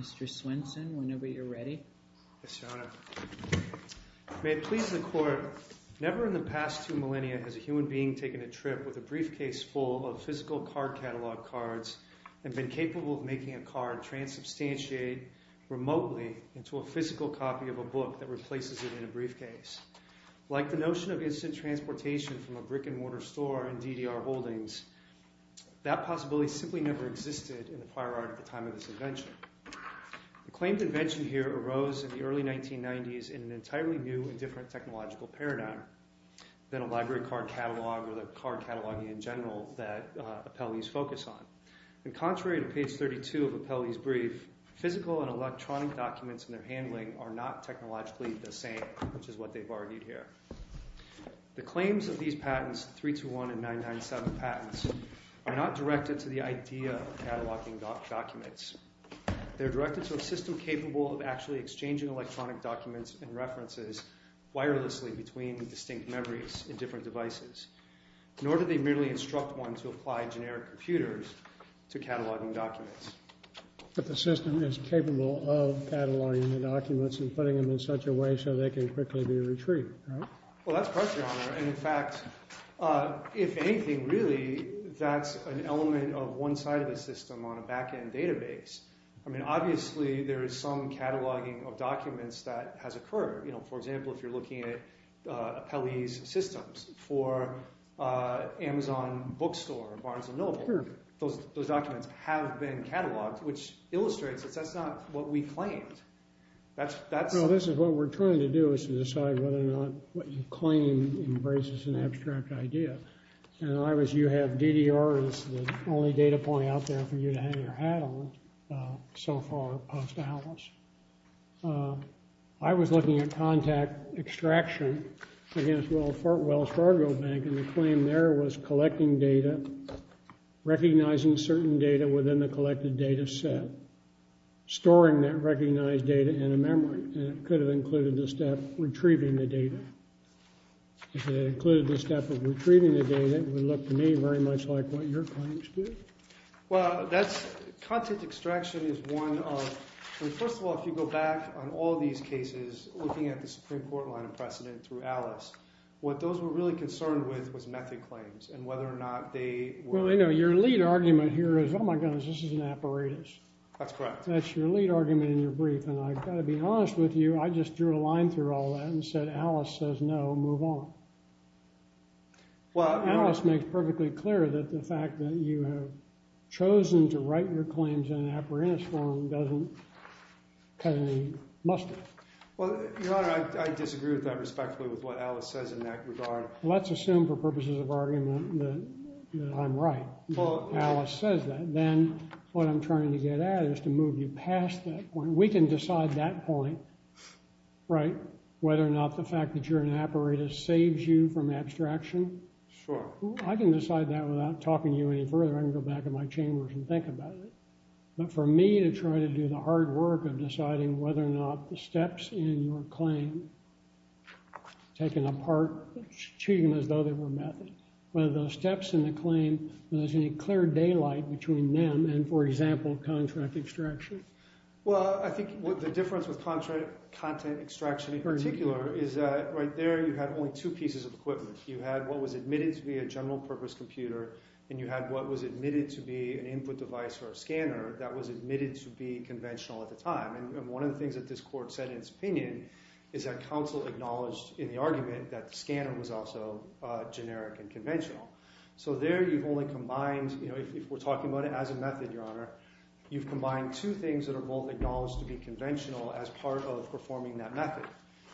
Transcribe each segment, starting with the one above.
Mr. Swenson, whenever you're ready. Yes, Your Honor. May it please the court, never in the past two millennia has a human being taken a trip with a briefcase full of physical card catalog cards and been capable of making a card transubstantiate remotely into a physical copy of a book that replaces it in a briefcase. Like the notion of instant transportation from a brick and mortar store and DDR holdings, that possibility simply never existed in the fire art at the time of this invention. The claimed invention here arose in the early 1990s in an entirely new and different technological paradigm than a library card catalog or the card cataloging in general that appellees focus on. And contrary to page 32 of an appellee's brief, physical and electronic documents in their handling are not technologically the same, which is what they've argued here. The claims of these patents, 321 and 997 patents, are not directed to the idea of cataloging documents. They're directed to a system capable of actually exchanging electronic documents and references wirelessly between distinct memories in different devices. Nor do they merely instruct one to apply generic computers to cataloging documents. But the system is capable of cataloging the documents and putting them in such a way so they can quickly be retrieved, right? Well, that's correct, Your Honor. And, in fact, if anything, really, that's an element of one side of the system on a back-end database. I mean, obviously, there is some cataloging of documents that has occurred. You know, for example, if you're looking at appellee's systems for Amazon Bookstore, Barnes & Noble, those documents have been cataloged, which illustrates that that's not what we claimed. No, this is what we're trying to do is to decide whether or not what you claim embraces an abstract idea. And you have DDR as the only data point out there for you to hang your hat on so far post-Alice. I was looking at contact extraction against Wells Fargo Bank, and the claim there was collecting data, recognizing certain data within the collected data set, storing that recognized data in a memory. And it could have included the step retrieving the data. If it included the step of retrieving the data, it would look to me very much like what your claims do. Well, that's – contact extraction is one of – I mean, first of all, if you go back on all these cases, looking at the Supreme Court line of precedent through Alice, what those were really concerned with was method claims and whether or not they were – Well, I know your lead argument here is, oh, my goodness, this is an apparatus. That's correct. That's your lead argument in your brief, and I've got to be honest with you. I just drew a line through all that and said Alice says no, move on. Alice makes perfectly clear that the fact that you have chosen to write your claims in an apparatus form doesn't cut any mustard. Well, Your Honor, I disagree with that respectfully with what Alice says in that regard. Let's assume for purposes of argument that I'm right. Alice says that. Then what I'm trying to get at is to move you past that point. We can decide that point, right, whether or not the fact that you're in an apparatus saves you from abstraction. Sure. I can decide that without talking to you any further. I can go back in my chambers and think about it. But for me to try to do the hard work of deciding whether or not the steps in your claim taken apart, treating them as though they were method, whether those steps in the claim, whether there's any clear daylight between them and, for example, contract extraction. Well, I think the difference with contract – content extraction in particular is that right there you had only two pieces of equipment. You had what was admitted to be a general purpose computer and you had what was admitted to be an input device or a scanner that was admitted to be conventional at the time. And one of the things that this court said in its opinion is that counsel acknowledged in the argument that the scanner was also generic and conventional. So there you've only combined – if we're talking about it as a method, Your Honor, you've combined two things that are both acknowledged to be conventional as part of performing that method.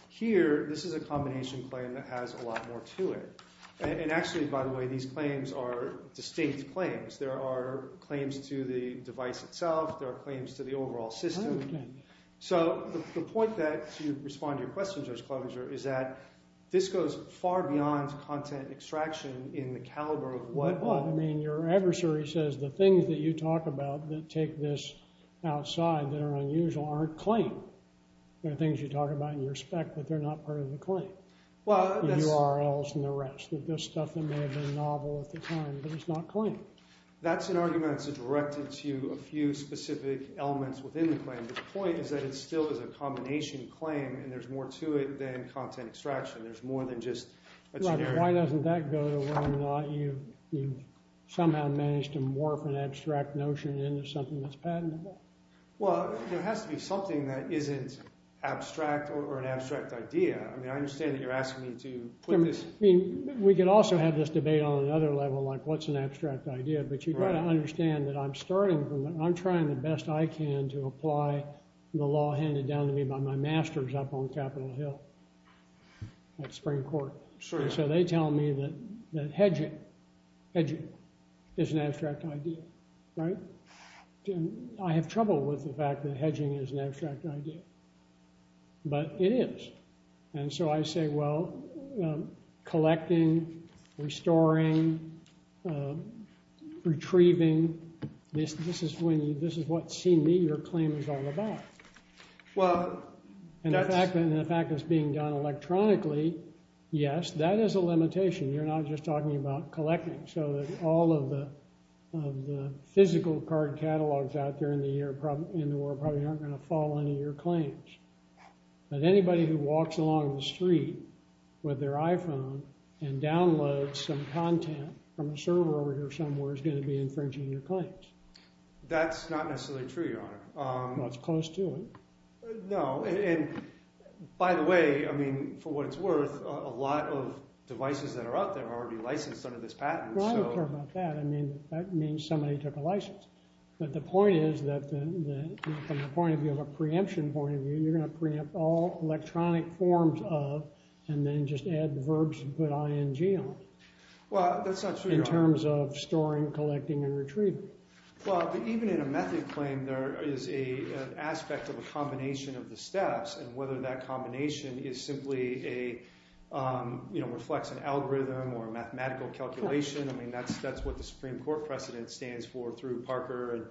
Here, this is a combination claim that has a lot more to it. And actually, by the way, these claims are distinct claims. There are claims to the device itself. There are claims to the overall system. So the point that – to respond to your question, Judge Klobuchar, is that this goes far beyond content extraction in the caliber of what – Well, I mean your adversary says the things that you talk about that take this outside that are unusual aren't claimed. There are things you talk about in your spec that they're not part of the claim, the URLs and the rest, the stuff that may have been novel at the time, but it's not claimed. That's an argument that's directed to a few specific elements within the claim. The point is that it still is a combination claim and there's more to it than content extraction. There's more than just a generic – Right, but why doesn't that go to whether or not you somehow managed to morph an abstract notion into something that's patentable? Well, there has to be something that isn't abstract or an abstract idea. I mean I understand that you're asking me to put this – I mean we could also have this debate on another level like what's an abstract idea, but you've got to understand that I'm starting from – I'm trying the best I can to apply the law handed down to me by my masters up on Capitol Hill at Spring Court. So they tell me that hedging is an abstract idea, right? I have trouble with the fact that hedging is an abstract idea, but it is. And so I say, well, collecting, restoring, retrieving, this is what CME, your claim, is all about. Well, that's – And the fact that it's being done electronically, yes, that is a limitation. You're not just talking about collecting. So all of the physical card catalogs out there in the world probably aren't going to follow any of your claims. But anybody who walks along the street with their iPhone and downloads some content from a server over here somewhere is going to be infringing your claims. That's not necessarily true, Your Honor. Well, it's close to it. No, and by the way, I mean, for what it's worth, a lot of devices that are out there are already licensed under this patent. No, I don't care about that. I mean, that means somebody took a license. But the point is that from the point of view of a preemption point of view, you're going to preempt all electronic forms of and then just add verbs and put ING on them. Well, that's not true, Your Honor. In terms of storing, collecting, and retrieving. Well, but even in a method claim, there is an aspect of a combination of the steps. And whether that combination is simply a, you know, reflects an algorithm or a mathematical calculation, I mean, that's what the Supreme Court precedent stands for through Parker.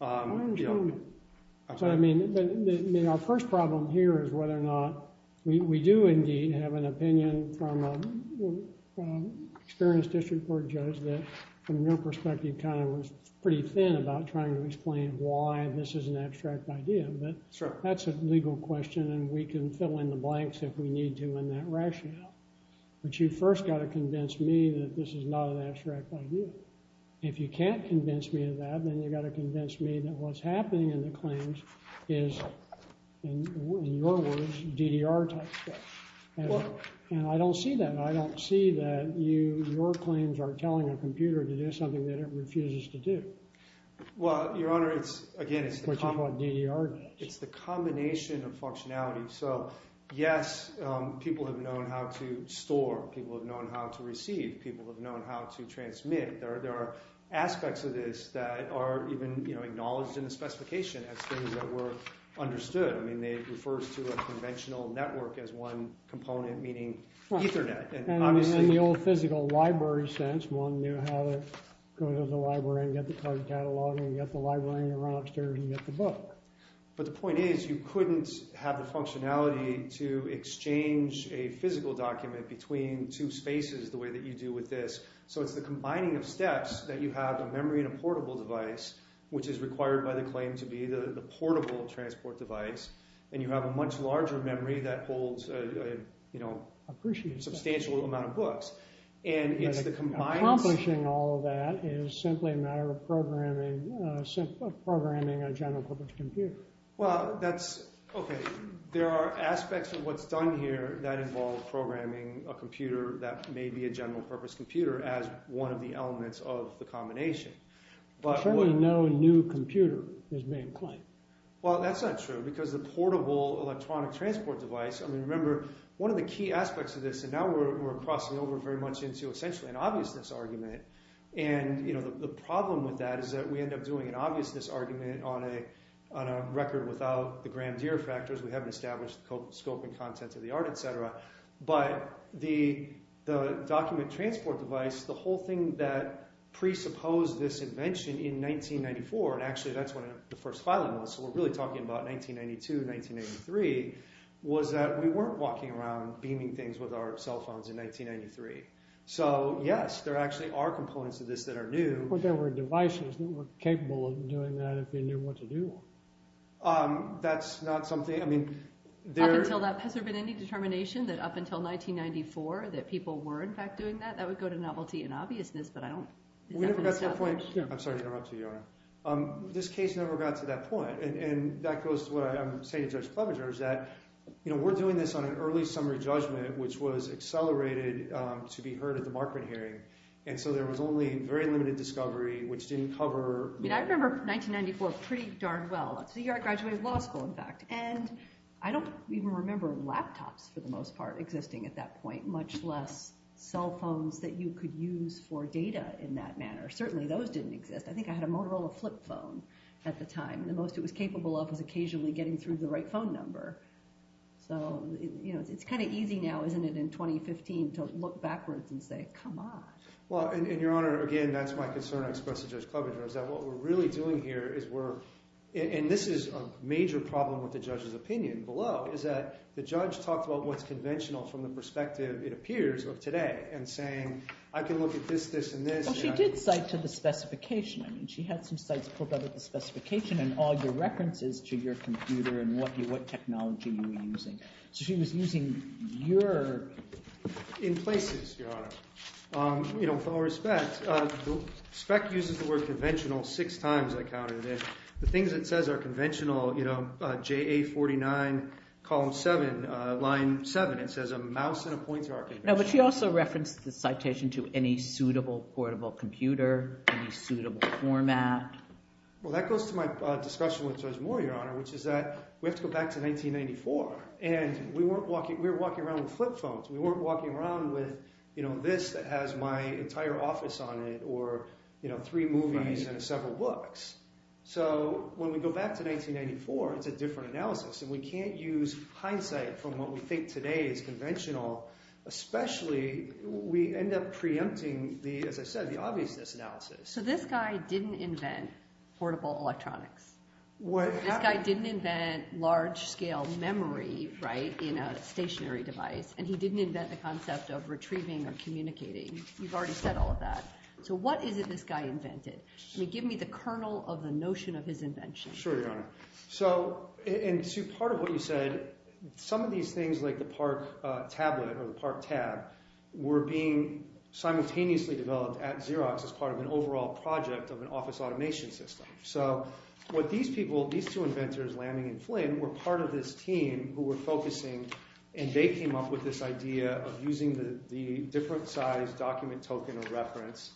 So I mean, our first problem here is whether or not we do indeed have an opinion from an experienced district court judge that from your perspective kind of was pretty thin about trying to explain why this is an abstract idea. But that's a legal question, and we can fill in the blanks if we need to in that rationale. But you first got to convince me that this is not an abstract idea. If you can't convince me of that, then you've got to convince me that what's happening in the claims is, in your words, DDR type stuff. And I don't see that. I don't see that your claims are telling a computer to do something that it refuses to do. Well, Your Honor, it's, again, it's the combination of functionality. So, yes, people have known how to store. People have known how to receive. People have known how to transmit. There are aspects of this that are even acknowledged in the specification as things that were understood. I mean, it refers to a conventional network as one component, meaning Ethernet. And in the old physical library sense, one knew how to go to the library and get the card catalog and get the library and run upstairs and get the book. But the point is you couldn't have the functionality to exchange a physical document between two spaces the way that you do with this. So, it's the combining of steps that you have a memory and a portable device, which is required by the claim to be the portable transport device. And you have a much larger memory that holds a substantial amount of books. Accomplishing all of that is simply a matter of programming a general-purpose computer. Well, that's – okay. There are aspects of what's done here that involve programming a computer that may be a general-purpose computer as one of the elements of the combination. Certainly no new computer is being claimed. Well, that's not true because the portable electronic transport device – I mean, remember, one of the key aspects of this – and now we're crossing over very much into essentially an obviousness argument. And the problem with that is that we end up doing an obviousness argument on a record without the grandeur factors. We haven't established the scope and content of the art, et cetera. But the document transport device, the whole thing that presupposed this invention in 1994 – and actually, that's when the first filing was. So we're really talking about 1992, 1983 – was that we weren't walking around beaming things with our cell phones in 1993. So, yes, there actually are components of this that are new. But there were devices that were capable of doing that if they knew what to do. That's not something – I mean, there – Up until that – has there been any determination that up until 1994 that people were in fact doing that? That would go to novelty and obviousness, but I don't – We never got to that point. I'm sorry to interrupt you, Your Honor. This case never got to that point. And that goes to what I'm saying to Judge Clevenger is that we're doing this on an early summary judgment, which was accelerated to be heard at the Markman hearing. And so there was only very limited discovery, which didn't cover – I remember 1994 pretty darn well. So you're at graduate law school, in fact. And I don't even remember laptops for the most part existing at that point, much less cell phones that you could use for data in that manner. Certainly those didn't exist. I think I had a Motorola flip phone at the time. The most it was capable of was occasionally getting through the right phone number. So it's kind of easy now, isn't it, in 2015 to look backwards and say, come on. Well, and Your Honor, again, that's my concern I expressed to Judge Clevenger is that what we're really doing here is we're – and this is a major problem with the judge's opinion below is that the judge talked about what's conventional from the perspective it appears of today and saying, I can look at this, this, and this. Well, she did cite to the specification. I mean she had some cites pulled out of the specification and all your references to your computer and what technology you were using. So she was using your – In places, Your Honor. With all respect, SPEC uses the word conventional six times I counted it. The things it says are conventional, JA 49, column 7, line 7. It says a mouse and a pointer are conventional. No, but she also referenced the citation to any suitable portable computer, any suitable format. Well, that goes to my discussion with Judge Moore, Your Honor, which is that we have to go back to 1994, and we weren't walking – we were walking around with flip phones. We weren't walking around with this that has my entire office on it or three movies and several books. So when we go back to 1994, it's a different analysis, and we can't use hindsight from what we think today is conventional, especially we end up preempting, as I said, the obviousness analysis. So this guy didn't invent portable electronics. This guy didn't invent large-scale memory in a stationary device, and he didn't invent the concept of retrieving or communicating. You've already said all of that. So what is it this guy invented? I mean, give me the kernel of the notion of his invention. Sure, Your Honor. So – and to part of what you said, some of these things like the Park tablet or the Park tab were being simultaneously developed at Xerox as part of an overall project of an office automation system. So what these people – these two inventors, Lanning and Flynn, were part of this team who were focusing, and they came up with this idea of using the different-sized document token of reference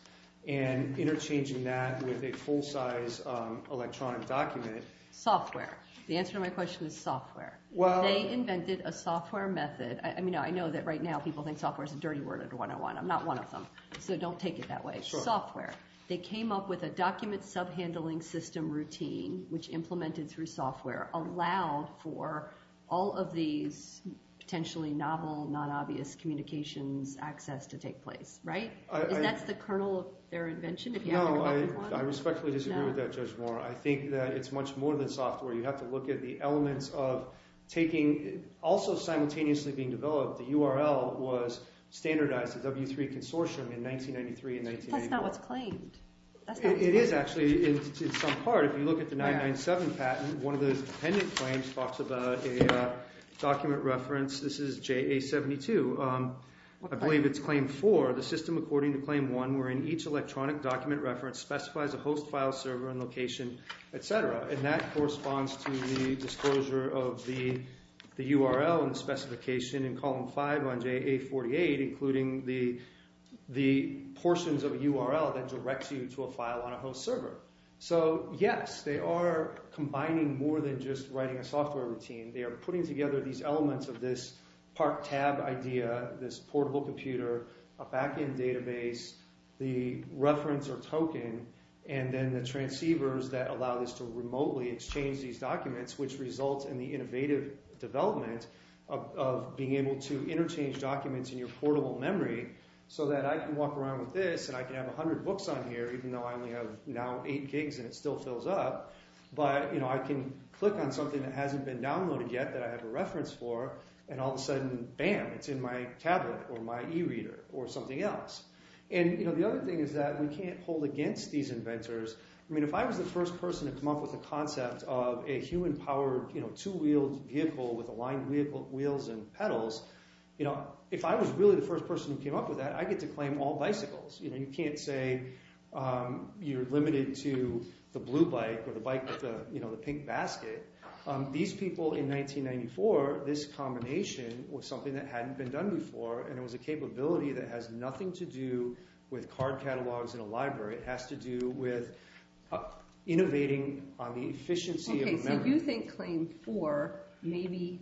and interchanging that with a full-size electronic document. Software. The answer to my question is software. Well – They invented a software method. I mean, I know that right now people think software is a dirty word under 101. I'm not one of them, so don't take it that way. Sure. Software. They came up with a document sub-handling system routine, which implemented through software, allowed for all of these potentially novel, not obvious communications access to take place, right? Is that the kernel of their invention? No, I respectfully disagree with that, Judge Moore. I think that it's much more than software. You have to look at the elements of taking – also simultaneously being developed, the URL was standardized at W3 Consortium in 1993 and 1994. That's not what's claimed. It is, actually, in some part. If you look at the 997 patent, one of those dependent claims talks about a document reference. This is JA72. I believe it's claim four. The system according to claim one wherein each electronic document reference specifies a host file server and location, etc. And that corresponds to the disclosure of the URL and the specification in column five on JA48, including the portions of a URL that directs you to a file on a host server. So, yes, they are combining more than just writing a software routine. They are putting together these elements of this part tab idea, this portable computer, a backend database, the reference or token, and then the transceivers that allow this to remotely exchange these documents, which results in the innovative development of being able to interchange documents in your portable memory so that I can walk around with this and I can have 100 books on here even though I only have now eight gigs and it still fills up. But I can click on something that hasn't been downloaded yet that I have a reference for and all of a sudden, bam, it's in my tablet or my e-reader or something else. And the other thing is that we can't hold against these inventors. I mean, if I was the first person to come up with a concept of a human-powered two-wheeled vehicle with aligned wheels and pedals, if I was really the first person who came up with that, I'd get to claim all bicycles. You can't say you're limited to the blue bike or the bike with the pink basket. These people in 1994, this combination was something that hadn't been done before and it was a capability that has nothing to do with card catalogs in a library. It has to do with innovating on the efficiency of memory. Okay, so you think claim four maybe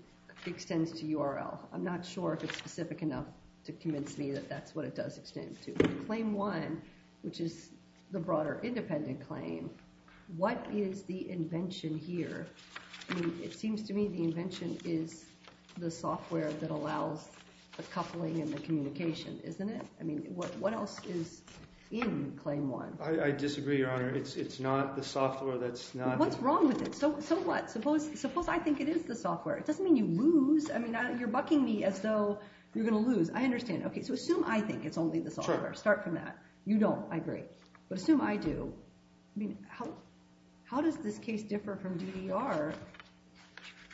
extends to URL. I'm not sure if it's specific enough to convince me that that's what it does extend to. Claim one, which is the broader independent claim, what is the invention here? I mean, it seems to me the invention is the software that allows the coupling and the communication, isn't it? I mean, what else is in claim one? I disagree, Your Honor. It's not the software that's not – What's wrong with it? So what? Suppose I think it is the software. It doesn't mean you lose. I mean, you're bucking me as though you're going to lose. I understand. Okay, so assume I think it's only the software. Start from that. You don't. I agree. But assume I do. I mean, how does this case differ from DDR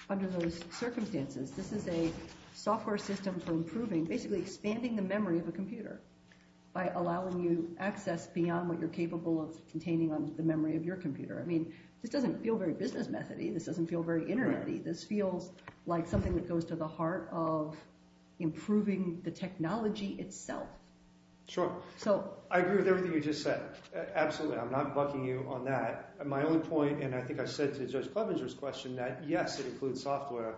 under those circumstances? This is a software system for improving, basically expanding the memory of a computer by allowing you access beyond what you're capable of containing on the memory of your computer. I mean, this doesn't feel very business method-y. This doesn't feel very internet-y. This feels like something that goes to the heart of improving the technology itself. Sure. So – I agree with everything you just said. Absolutely. I'm not bucking you on that. My only point – and I think I said to Judge Clevenger's question that, yes, it includes software.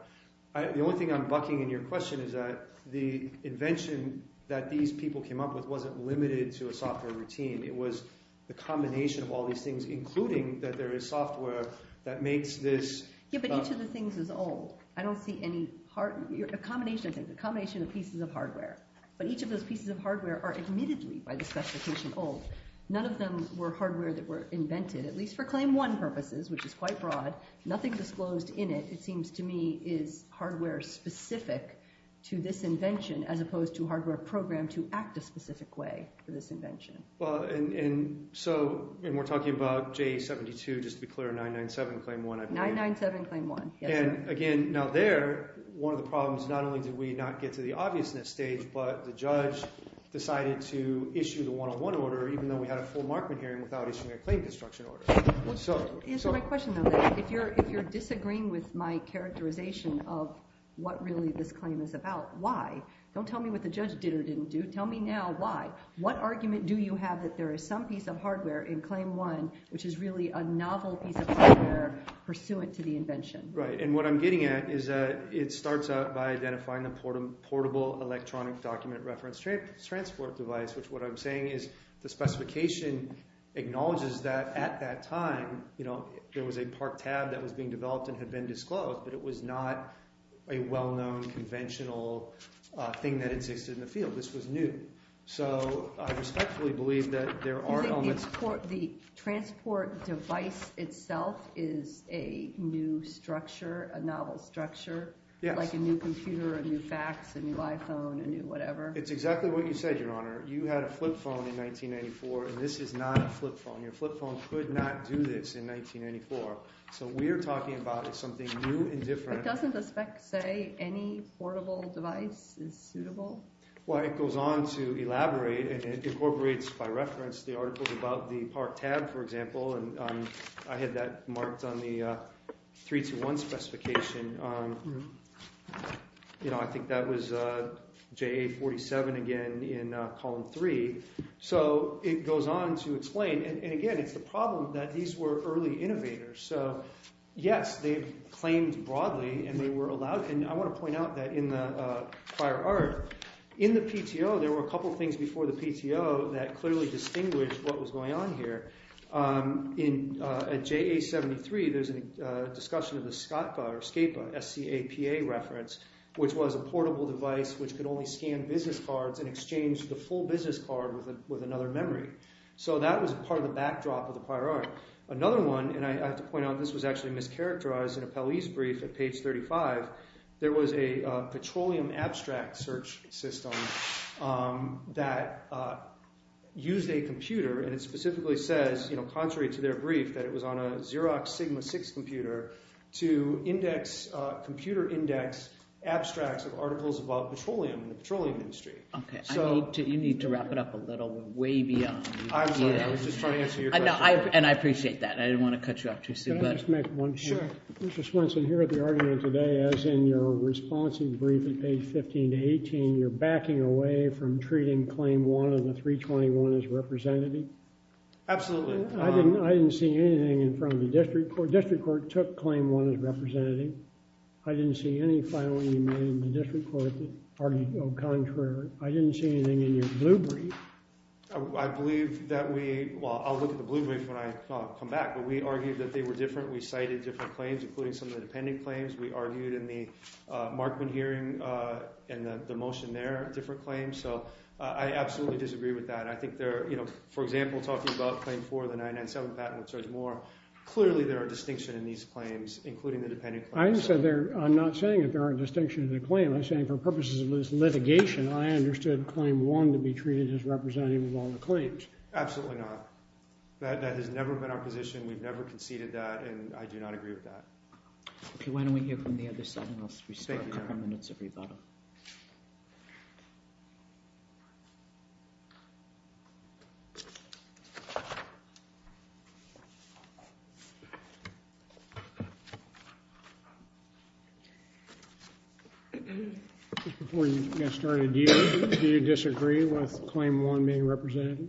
The only thing I'm bucking in your question is that the invention that these people came up with wasn't limited to a software routine. It was the combination of all these things, including that there is software that makes this – Yeah, but each of the things is old. I don't see any – a combination of things, a combination of pieces of hardware. But each of those pieces of hardware are admittedly, by the specification, old. None of them were hardware that were invented, at least for Claim 1 purposes, which is quite broad. Nothing disclosed in it, it seems to me, is hardware specific to this invention as opposed to hardware programmed to act a specific way for this invention. Well, and so – and we're talking about J72, just to be clear, or 997, Claim 1, I believe. 997, Claim 1. And again, now there, one of the problems, not only did we not get to the obviousness stage, but the judge decided to issue the one-on-one order even though we had a full Markman hearing without issuing a claim construction order. Answer my question, though. If you're disagreeing with my characterization of what really this claim is about, why? Don't tell me what the judge did or didn't do. Tell me now why. What argument do you have that there is some piece of hardware in Claim 1 which is really a novel piece of hardware pursuant to the invention? Right, and what I'm getting at is it starts out by identifying the portable electronic document reference transport device, which what I'm saying is the specification acknowledges that at that time there was a park tab that was being developed and had been disclosed, but it was not a well-known conventional thing that existed in the field. This was new. So I respectfully believe that there are elements of it. You think the transport device itself is a new structure, a novel structure? Yes. Like a new computer, a new fax, a new iPhone, a new whatever? It's exactly what you said, Your Honor. You had a flip phone in 1994, and this is not a flip phone. Your flip phone could not do this in 1994. So we're talking about something new and different. But doesn't the spec say any portable device is suitable? Well, it goes on to elaborate, and it incorporates by reference the articles about the park tab, for example, and I had that marked on the 321 specification. I think that was JA 47 again in column 3. So it goes on to explain, and again, it's the problem that these were early innovators. So, yes, they've claimed broadly, and they were allowed, and I want to point out that in the prior art, in the PTO, there were a couple things before the PTO that clearly distinguished what was going on here. At JA 73, there's a discussion of the SCAPA, S-C-A-P-A reference, which was a portable device which could only scan business cards and exchange the full business card with another memory. So that was part of the backdrop of the prior art. Another one, and I have to point out this was actually mischaracterized in a Pell-East brief at page 35, there was a petroleum abstract search system that used a computer, and it specifically says, contrary to their brief, that it was on a Xerox Sigma-6 computer to index, computer index, abstracts of articles about petroleum and the petroleum industry. Okay, you need to wrap it up a little. We're way beyond you. I'm sorry. I was just trying to answer your question. No, and I appreciate that. I didn't want to cut you off too soon. Can I just make one point? Sure. Mr. Swenson, here at the argument today, as in your responsive brief at page 15 to 18, you're backing away from treating Claim 1 of the 321 as representative. Absolutely. I didn't see anything in front of the district court. The district court took Claim 1 as representative. I didn't see any filing in the district court that argued au contraire. I didn't see anything in your blue brief. I believe that we—well, I'll look at the blue brief when I come back, but we argued that they were different. We cited different claims, including some of the dependent claims. We argued in the Markman hearing and the motion there, different claims. So I absolutely disagree with that. I think they're—for example, talking about Claim 4 of the 997 patent with Judge Moore, clearly there are distinctions in these claims, including the dependent claims. I'm not saying that there aren't distinctions in the claim. I'm saying for purposes of this litigation, I understood Claim 1 to be treated as representative of all the claims. Absolutely not. That has never been our position. We've never conceded that, and I do not agree with that. Okay, why don't we hear from the other side, and I'll speak for a couple minutes if we'd rather. Before we get started, do you disagree with Claim 1 being representative?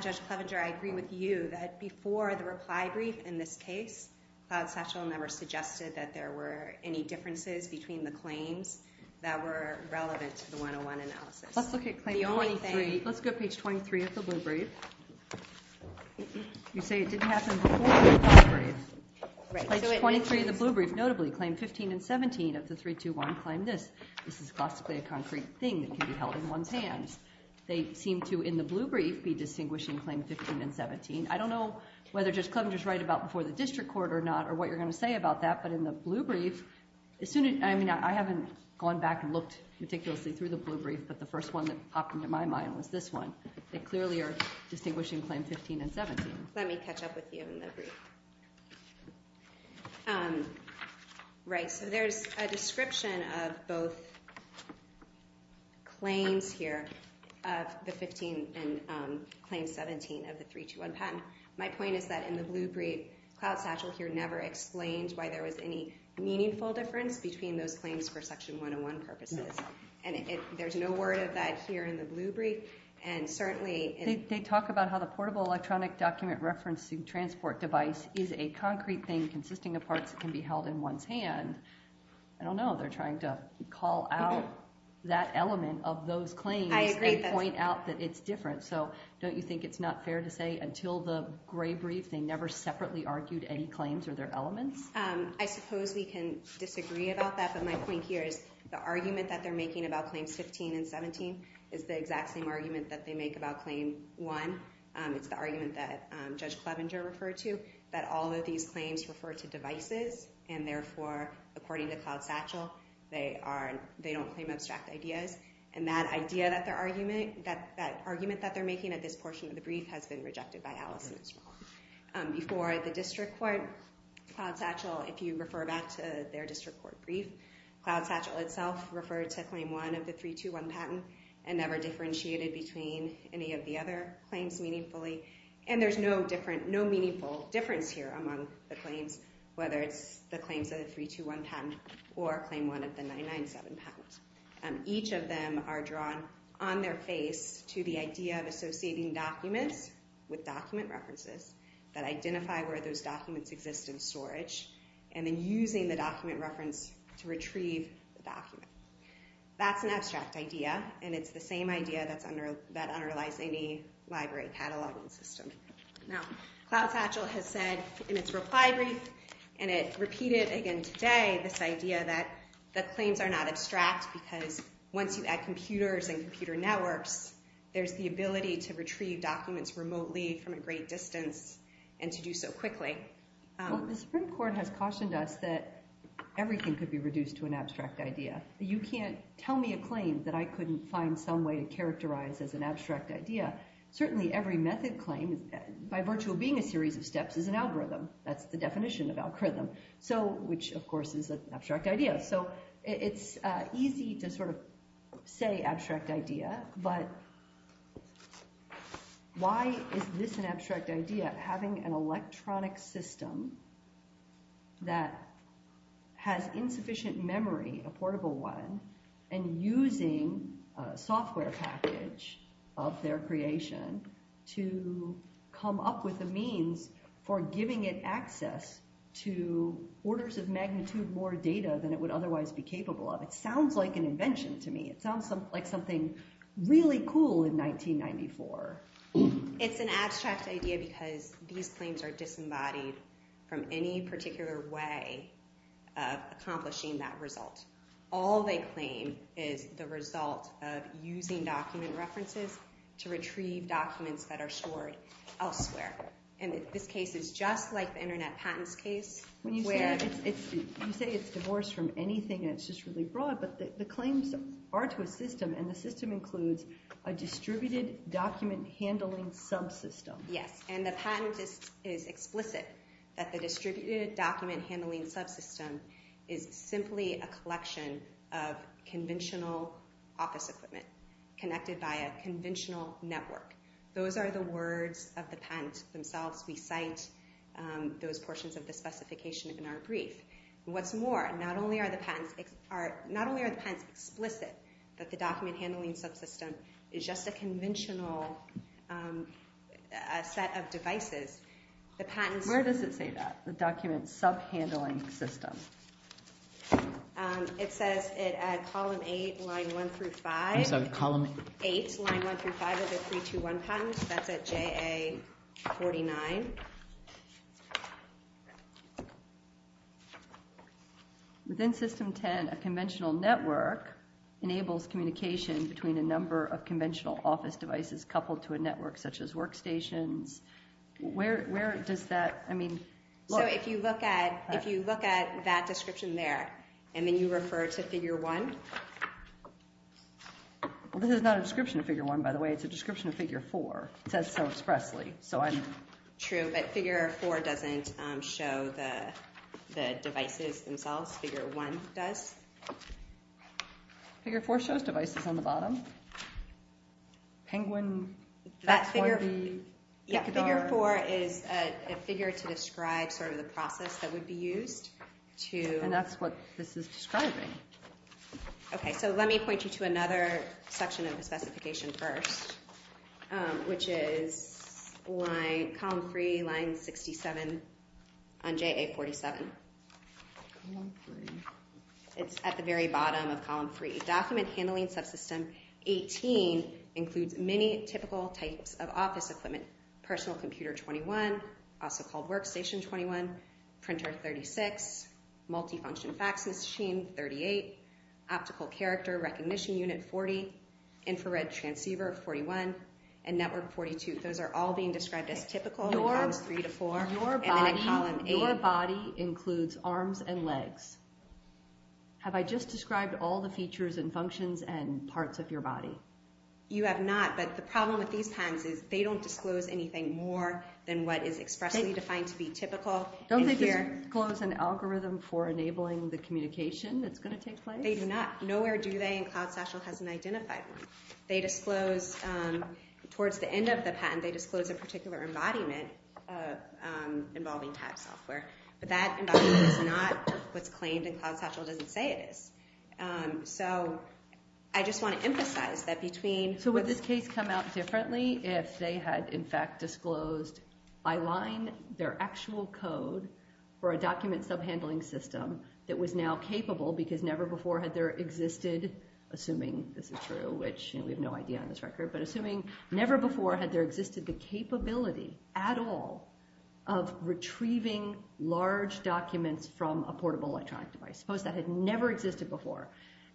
Judge Clevenger, I agree with you that before the reply brief in this case, Cloud Satchel never suggested that there were any differences between the claims that were relevant to the 101 analysis. Let's look at Claim 23. Let's go to Page 23 of the blue brief. You say it didn't happen before the reply brief. Page 23 of the blue brief. Notably, Claim 15 and 17 of the 321 claim this. This is classically a concrete thing that can be held in one's hands. They seem to, in the blue brief, be distinguishing Claim 15 and 17. I don't know whether Judge Clevenger is right about before the district court or not or what you're going to say about that, but in the blue brief, I haven't gone back and looked meticulously through the blue brief, but the first one that popped into my mind was this one. They clearly are distinguishing Claim 15 and 17. Let me catch up with you in the brief. Right. So there's a description of both claims here of the 15 and Claim 17 of the 321 patent. My point is that in the blue brief, Cloud Satchel here never explained why there was any meaningful difference between those claims for Section 101 purposes, and there's no word of that here in the blue brief. They talk about how the portable electronic document referencing transport device is a concrete thing consisting of parts that can be held in one's hand. I don't know. They're trying to call out that element of those claims and point out that it's different. So don't you think it's not fair to say until the gray brief they never separately argued any claims or their elements? I suppose we can disagree about that, but my point here is the argument that they're making about Claims 15 and 17 is the exact same argument that they make about Claim 1. It's the argument that Judge Clevenger referred to, that all of these claims refer to devices, and therefore, according to Cloud Satchel, they don't claim abstract ideas. And that argument that they're making at this portion of the brief has been rejected by Allison as well. Before the district court, Cloud Satchel, if you refer back to their district court brief, Cloud Satchel itself referred to Claim 1 of the 321 patent and never differentiated between any of the other claims meaningfully, and there's no meaningful difference here among the claims, whether it's the claims of the 321 patent or Claim 1 of the 997 patent. Each of them are drawn on their face to the idea of associating documents and then using the document reference to retrieve the document. That's an abstract idea, and it's the same idea that underlies any library cataloging system. Now, Cloud Satchel has said in its reply brief, and it repeated again today this idea that the claims are not abstract because once you add computers and computer networks, there's the ability to retrieve documents remotely from a great distance and to do so quickly. Well, the Supreme Court has cautioned us that everything could be reduced to an abstract idea. You can't tell me a claim that I couldn't find some way to characterize as an abstract idea. Certainly every method claim, by virtue of being a series of steps, is an algorithm. That's the definition of algorithm, which, of course, is an abstract idea. So it's easy to sort of say abstract idea, but why is this an abstract idea? It's the idea that having an electronic system that has insufficient memory, a portable one, and using a software package of their creation to come up with the means for giving it access to orders of magnitude more data than it would otherwise be capable of. It sounds like an invention to me. It sounds like something really cool in 1994. It's an abstract idea because these claims are disembodied from any particular way of accomplishing that result. All they claim is the result of using document references to retrieve documents that are stored elsewhere. And this case is just like the Internet patents case. You say it's divorced from anything, and it's just really broad, but the claims are to a system, and the system includes a distributed document handling subsystem. Yes, and the patent is explicit that the distributed document handling subsystem is simply a collection of conventional office equipment connected by a conventional network. Those are the words of the patent themselves. We cite those portions of the specification in our brief. What's more, not only are the patents explicit, but the document handling subsystem is just a conventional set of devices. Where does it say that, the document sub-handling system? It says at column 8, line 1 through 5. I'm sorry, column 8? 8, line 1 through 5 of the 321 patent. That's at JA 49. Okay. Within system 10, a conventional network enables communication between a number of conventional office devices coupled to a network such as workstations. Where does that, I mean, look? So if you look at that description there, and then you refer to figure 1? This is not a description of figure 1, by the way. It's a description of figure 4. It says so expressly. True, but figure 4 doesn't show the devices themselves. Figure 1 does. Figure 4 shows devices on the bottom. Penguin, XYB, Picadar. Yeah, figure 4 is a figure to describe sort of the process that would be used. And that's what this is describing. Okay, so let me point you to another section of the specification first, which is column 3, line 67 on JA 47. Column 3. It's at the very bottom of column 3. Document handling subsystem 18 includes many typical types of office equipment, personal computer 21, also called workstation 21, printer 36, multifunction fax machine 38, optical character recognition unit 40, infrared transceiver 41, and network 42. Those are all being described as typical in columns 3 to 4, and then in column 8. Your body includes arms and legs. Have I just described all the features and functions and parts of your body? You have not, but the problem with these times is they don't disclose anything more than what is expressly defined to be typical. Don't they disclose an algorithm for enabling the communication that's going to take place? They do not. Nowhere do they, and CloudStatual hasn't identified one. They disclose towards the end of the patent, they disclose a particular embodiment involving type software, but that embodiment is not what's claimed, and CloudStatual doesn't say it is. So I just want to emphasize that between— So would this case come out differently if they had, in fact, disclosed by line their actual code for a document subhandling system that was now capable because never before had there existed, assuming this is true, which we have no idea on this record, but assuming never before had there existed the capability at all of retrieving large documents from a portable electronic device. Suppose that had never existed before,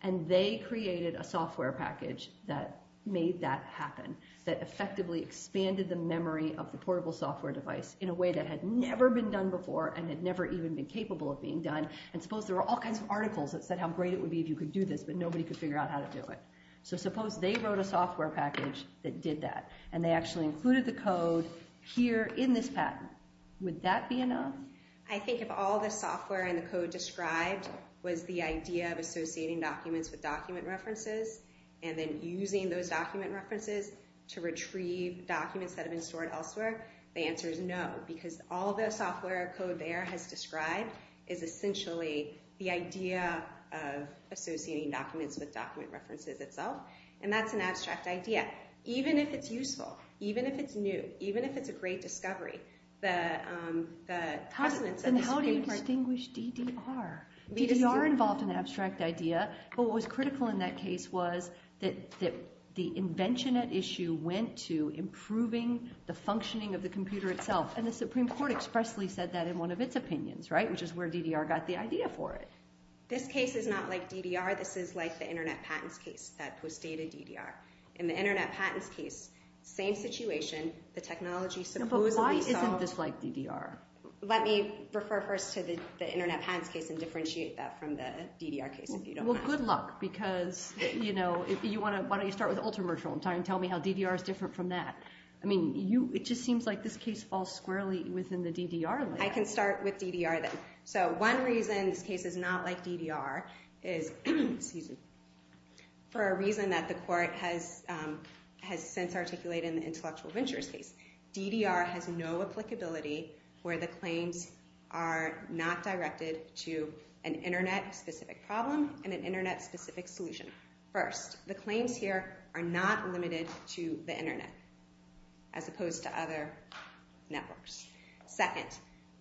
and they created a software package that made that happen, that effectively expanded the memory of the portable software device in a way that had never been done before and had never even been capable of being done, and suppose there were all kinds of articles that said how great it would be if you could do this, but nobody could figure out how to do it. So suppose they wrote a software package that did that, and they actually included the code here in this patent. Would that be enough? I think if all the software and the code described was the idea of associating documents with document references and then using those document references to retrieve documents that have been stored elsewhere, the answer is no because all the software code there has described is essentially the idea of associating documents with document references itself, and that's an abstract idea. Even if it's useful, even if it's new, even if it's a great discovery, the precedence of this paper... How do you distinguish DDR? DDR involved an abstract idea, but what was critical in that case was that the invention at issue went to improving the functioning of the computer itself, and the Supreme Court expressly said that in one of its opinions, which is where DDR got the idea for it. This case is not like DDR. This is like the Internet Patents case that postdated DDR. In the Internet Patents case, same situation, the technology supposedly solved... But why isn't this like DDR? Let me refer first to the Internet Patents case and differentiate that from the DDR case, if you don't mind. Well, good luck, because, you know, why don't you start with Ultramarginal and tell me how DDR is different from that? I mean, it just seems like this case falls squarely within the DDR list. I can start with DDR, then. So one reason this case is not like DDR is... Excuse me. For a reason that the court has since articulated in the Intellectual Ventures case. DDR has no applicability where the claims are not directed to an Internet-specific problem and an Internet-specific solution. First, the claims here are not limited to the Internet, as opposed to other networks. Second,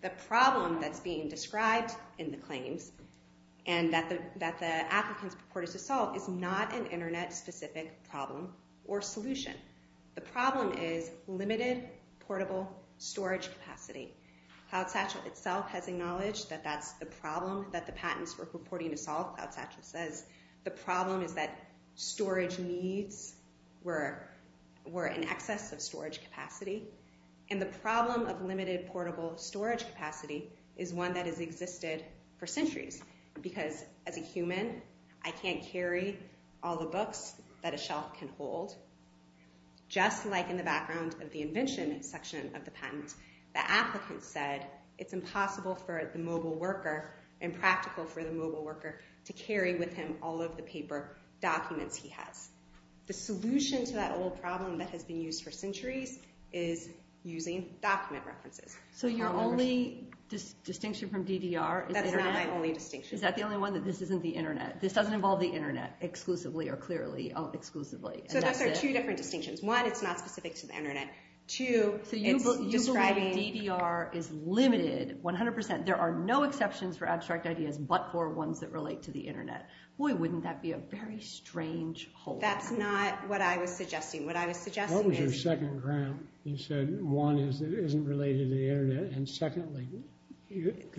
the problem that's being described in the claims and that the applicants purported to solve is not an Internet-specific problem or solution. The problem is limited portable storage capacity. CloudSatchel itself has acknowledged that that's the problem that the patents were purporting to solve. CloudSatchel says the problem is that storage needs were in excess of storage capacity. And the problem of limited portable storage capacity is one that has existed for centuries. Because as a human, I can't carry all the books that a shelf can hold. Just like in the background of the invention section of the patent, the applicant said it's impossible for the mobile worker and practical for the mobile worker to carry with him all of the paper documents he has. The solution to that old problem that has been used for centuries is using document references. So your only distinction from DDR is Internet? That's not my only distinction. Is that the only one, that this isn't the Internet? This doesn't involve the Internet exclusively or clearly exclusively? So those are two different distinctions. One, it's not specific to the Internet. Two, it's describing... So you believe DDR is limited 100%? There are no exceptions for abstract ideas but for ones that relate to the Internet. Boy, wouldn't that be a very strange whole. That's not what I was suggesting. What I was suggesting is... What was your second ground? You said one is it isn't related to the Internet and secondly...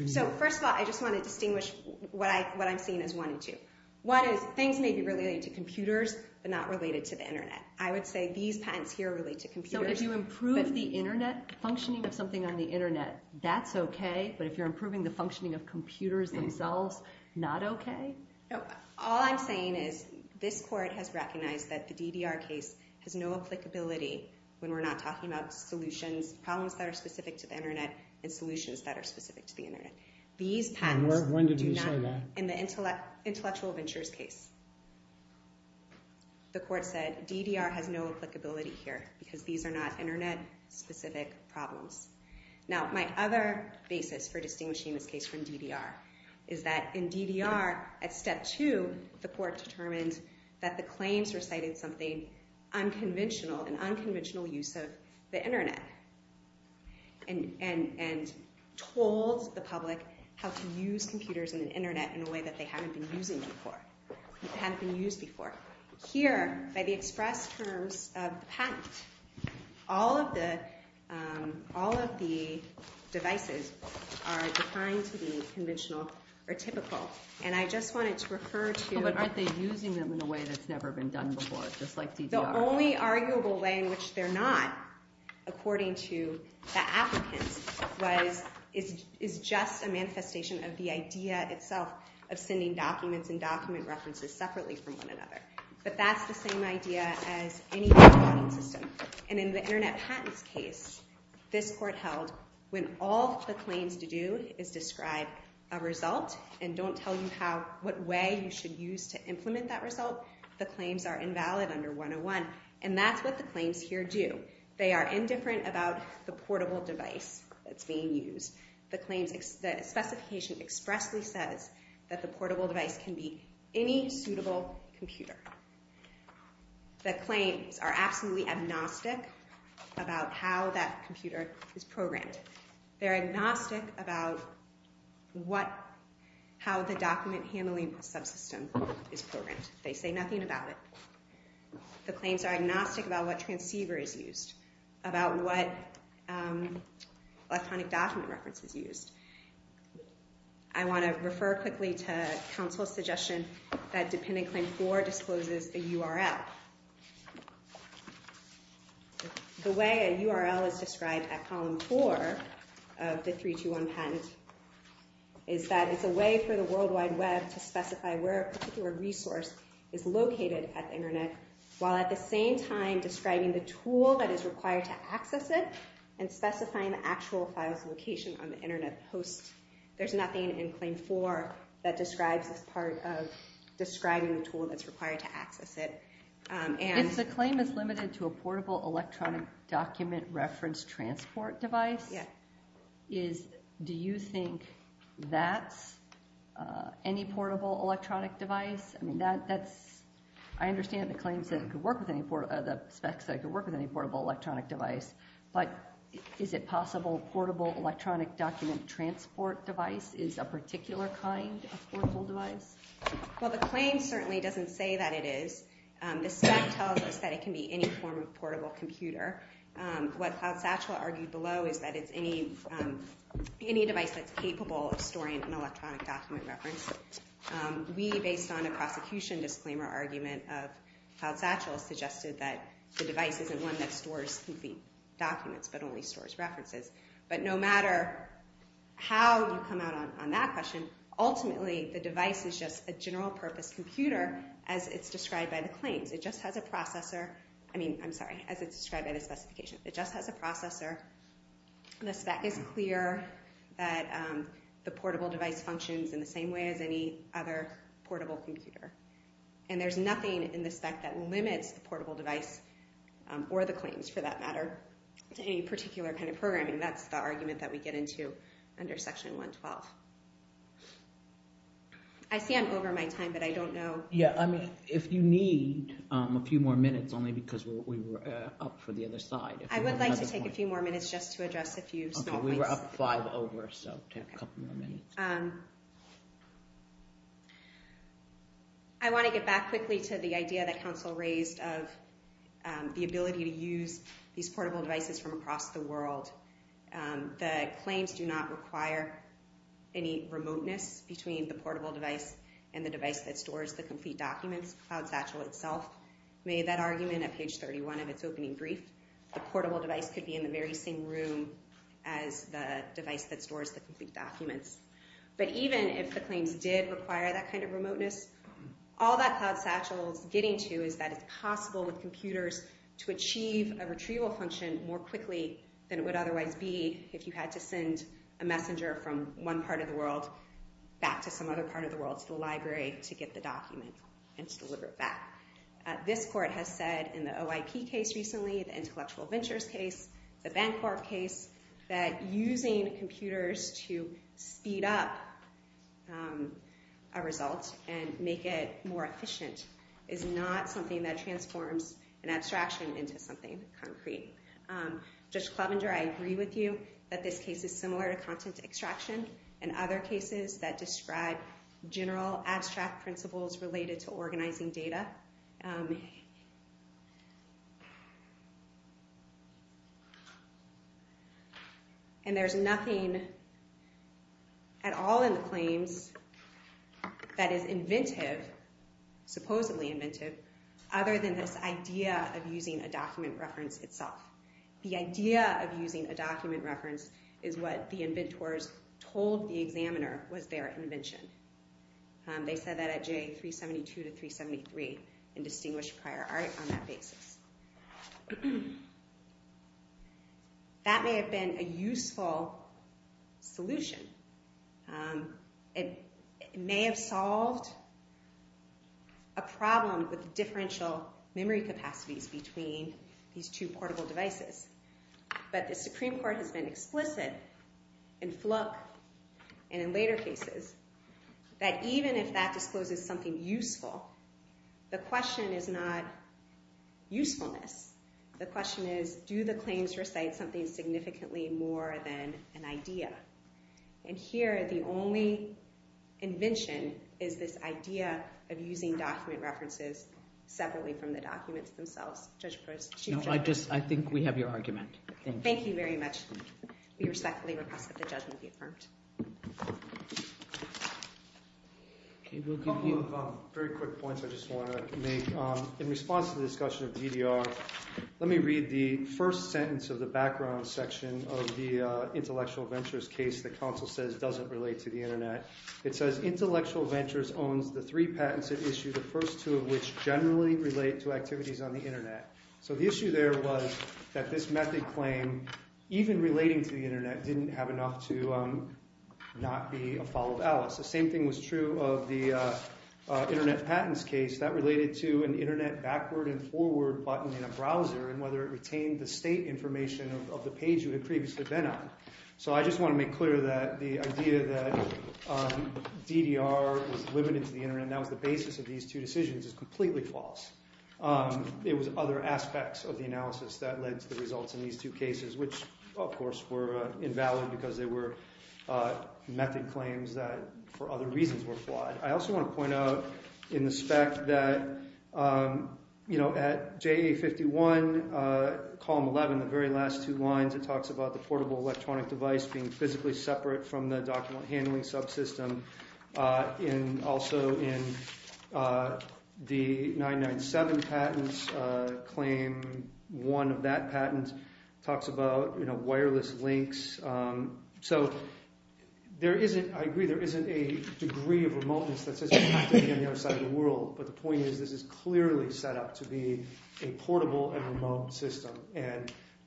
So first of all, I just want to distinguish what I'm seeing as one and two. One is things may be related to computers but not related to the Internet. I would say these patents here relate to computers. So if you improve the Internet, functioning of something on the Internet, that's okay. But if you're improving the functioning of computers themselves, not okay? All I'm saying is this court has recognized that the DDR case has no applicability when we're not talking about solutions, problems that are specific to the Internet and solutions that are specific to the Internet. These patents do not... When did we say that? In the Intellectual Ventures case. The court said DDR has no applicability here because these are not Internet-specific problems. Now, my other basis for distinguishing this case from DDR is that in DDR, at step two, the court determined that the claims recited something unconventional, an unconventional use of the Internet and told the public how to use computers and the Internet in a way that they hadn't been using before, hadn't been used before. Here, by the express terms of the patent, all of the devices are defined to be conventional or typical and I just wanted to refer to... But aren't they using them in a way that's never been done before, just like DDR? The only arguable way in which they're not, according to the applicants, is just a manifestation of the idea itself of sending documents and document references separately from one another. But that's the same idea as any other system. And in the Internet patents case, this court held when all the claims to do is describe a result and don't tell you what way you should use to implement that result, the claims are invalid under 101. And that's what the claims here do. They are indifferent about the portable device that's being used. The specification expressly says that the portable device can be any suitable computer. The claims are absolutely agnostic about how that computer is programmed. They're agnostic about how the document handling subsystem is programmed. They say nothing about it. The claims are agnostic about what transceiver is used, about what electronic document reference is used. I want to refer quickly to counsel's suggestion that the way a URL is described at column 4 of the 321 patent is that it's a way for the World Wide Web to specify where a particular resource is located at the Internet while at the same time describing the tool that is required to access it and specifying the actual file's location on the Internet post. There's nothing in claim 4 that describes this part of describing the tool that's required to access it. If the claim is limited to a portable electronic document reference transport device, do you think that's any portable electronic device? I understand the claims that it could work with any portable electronic device, but is it possible a portable electronic document transport device is a particular kind of portable device? Well, the claim certainly doesn't say that it is. The spec tells us that it can be any form of portable computer. What Cloud Satchel argued below is that it's any device that's capable of storing an electronic document reference. We, based on a prosecution disclaimer argument of Cloud Satchel, suggested that the device isn't one that stores complete documents but only stores references. But no matter how you come out on that question, ultimately the device is just a general purpose computer as it's described by the claims. It just has a processor. I mean, I'm sorry, as it's described by the specification. It just has a processor. The spec is clear that the portable device functions in the same way as any other portable computer. And there's nothing in the spec that limits the portable device or the claims, for that matter, to any particular kind of programming. That's the argument that we get into under Section 112. I see I'm over my time, but I don't know. Yeah. I mean, if you need a few more minutes, only because we were up for the other side. I would like to take a few more minutes just to address a few small points. Okay. We were up five over, so take a couple more minutes. I want to get back quickly to the idea that Council raised of the ability to use these portable devices from across the world. The claims do not require any remoteness between the portable device and the device that stores the complete documents. CloudSatchel itself made that argument at page 31 of its opening brief. The portable device could be in the very same room as the device that stores the complete documents. But even if the claims did require that kind of remoteness, all that CloudSatchel is getting to is that it's possible with computers to achieve a retrieval function more quickly than it would otherwise be if you had to send a messenger from one part of the world back to some other part of the world, to the library, to get the document and to deliver it back. This court has said in the OIP case recently, the Intellectual Ventures case, the Bancorp case, that using computers to speed up a result and make it more efficient is not something that transforms an abstraction into something concrete. Judge Klovenger, I agree with you that this case is similar to content extraction and other cases that describe general abstract principles related to organizing data. And there's nothing at all in the claims that is inventive, supposedly inventive, other than this idea of using a document reference itself. The idea of using a document reference is what the inventors told the examiner was their invention. They said that at J372 to 373 in distinguished prior art on that basis. That may have been a useful solution. It may have solved a problem with differential memory capacities between these two portable devices. But the Supreme Court has been explicit in Flook and in later cases that even if that discloses something useful, the question is not usefulness. The question is, do the claims recite something significantly more than an idea? And here the only invention is this idea of using document references separately from the documents themselves. Judge Klovenger. No, I think we have your argument. Thank you very much. We respectfully request that the judgment be affirmed. A couple of very quick points I just want to make. In response to the discussion of DDR, let me read the first sentence of the background section of the Intellectual Ventures case that counsel says doesn't relate to the Internet. It says, Intellectual Ventures owns the three patents at issue, the first two of which generally relate to activities on the Internet. So the issue there was that this method claim, even relating to the Internet, didn't have enough to not be a follow of Alice. The same thing was true of the Internet patents case. That related to an Internet backward and forward button in a browser and whether it retained the state information of the page you had previously been on. So I just want to make clear that the idea that DDR was limited to the Internet and that was the basis of these two decisions is completely false. It was other aspects of the analysis that led to the results in these two cases, which of course were invalid because they were method claims that for other reasons were flawed. I also want to point out in the spec that at JA51, column 11, the very last two lines it talks about the portable electronic device being physically separate from the document handling subsystem. Also in the 997 patents claim, one of that patent talks about wireless links. So I agree there isn't a degree of remoteness that says you have to be on the other side of the world, but the point is this is clearly set up to be a portable and remote system.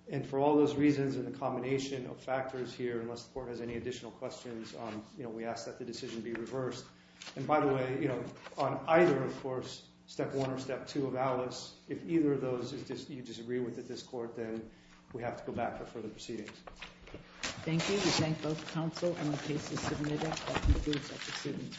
And for all those reasons and the combination of factors here, unless the court has any additional questions, we ask that the decision be reversed. And by the way, on either, of course, Step 1 or Step 2 of ALICE, if either of those you disagree with at this court, then we have to go back for further proceedings. Thank you. We thank both counsel and the case's submitter. That concludes our proceedings for this morning. All rise.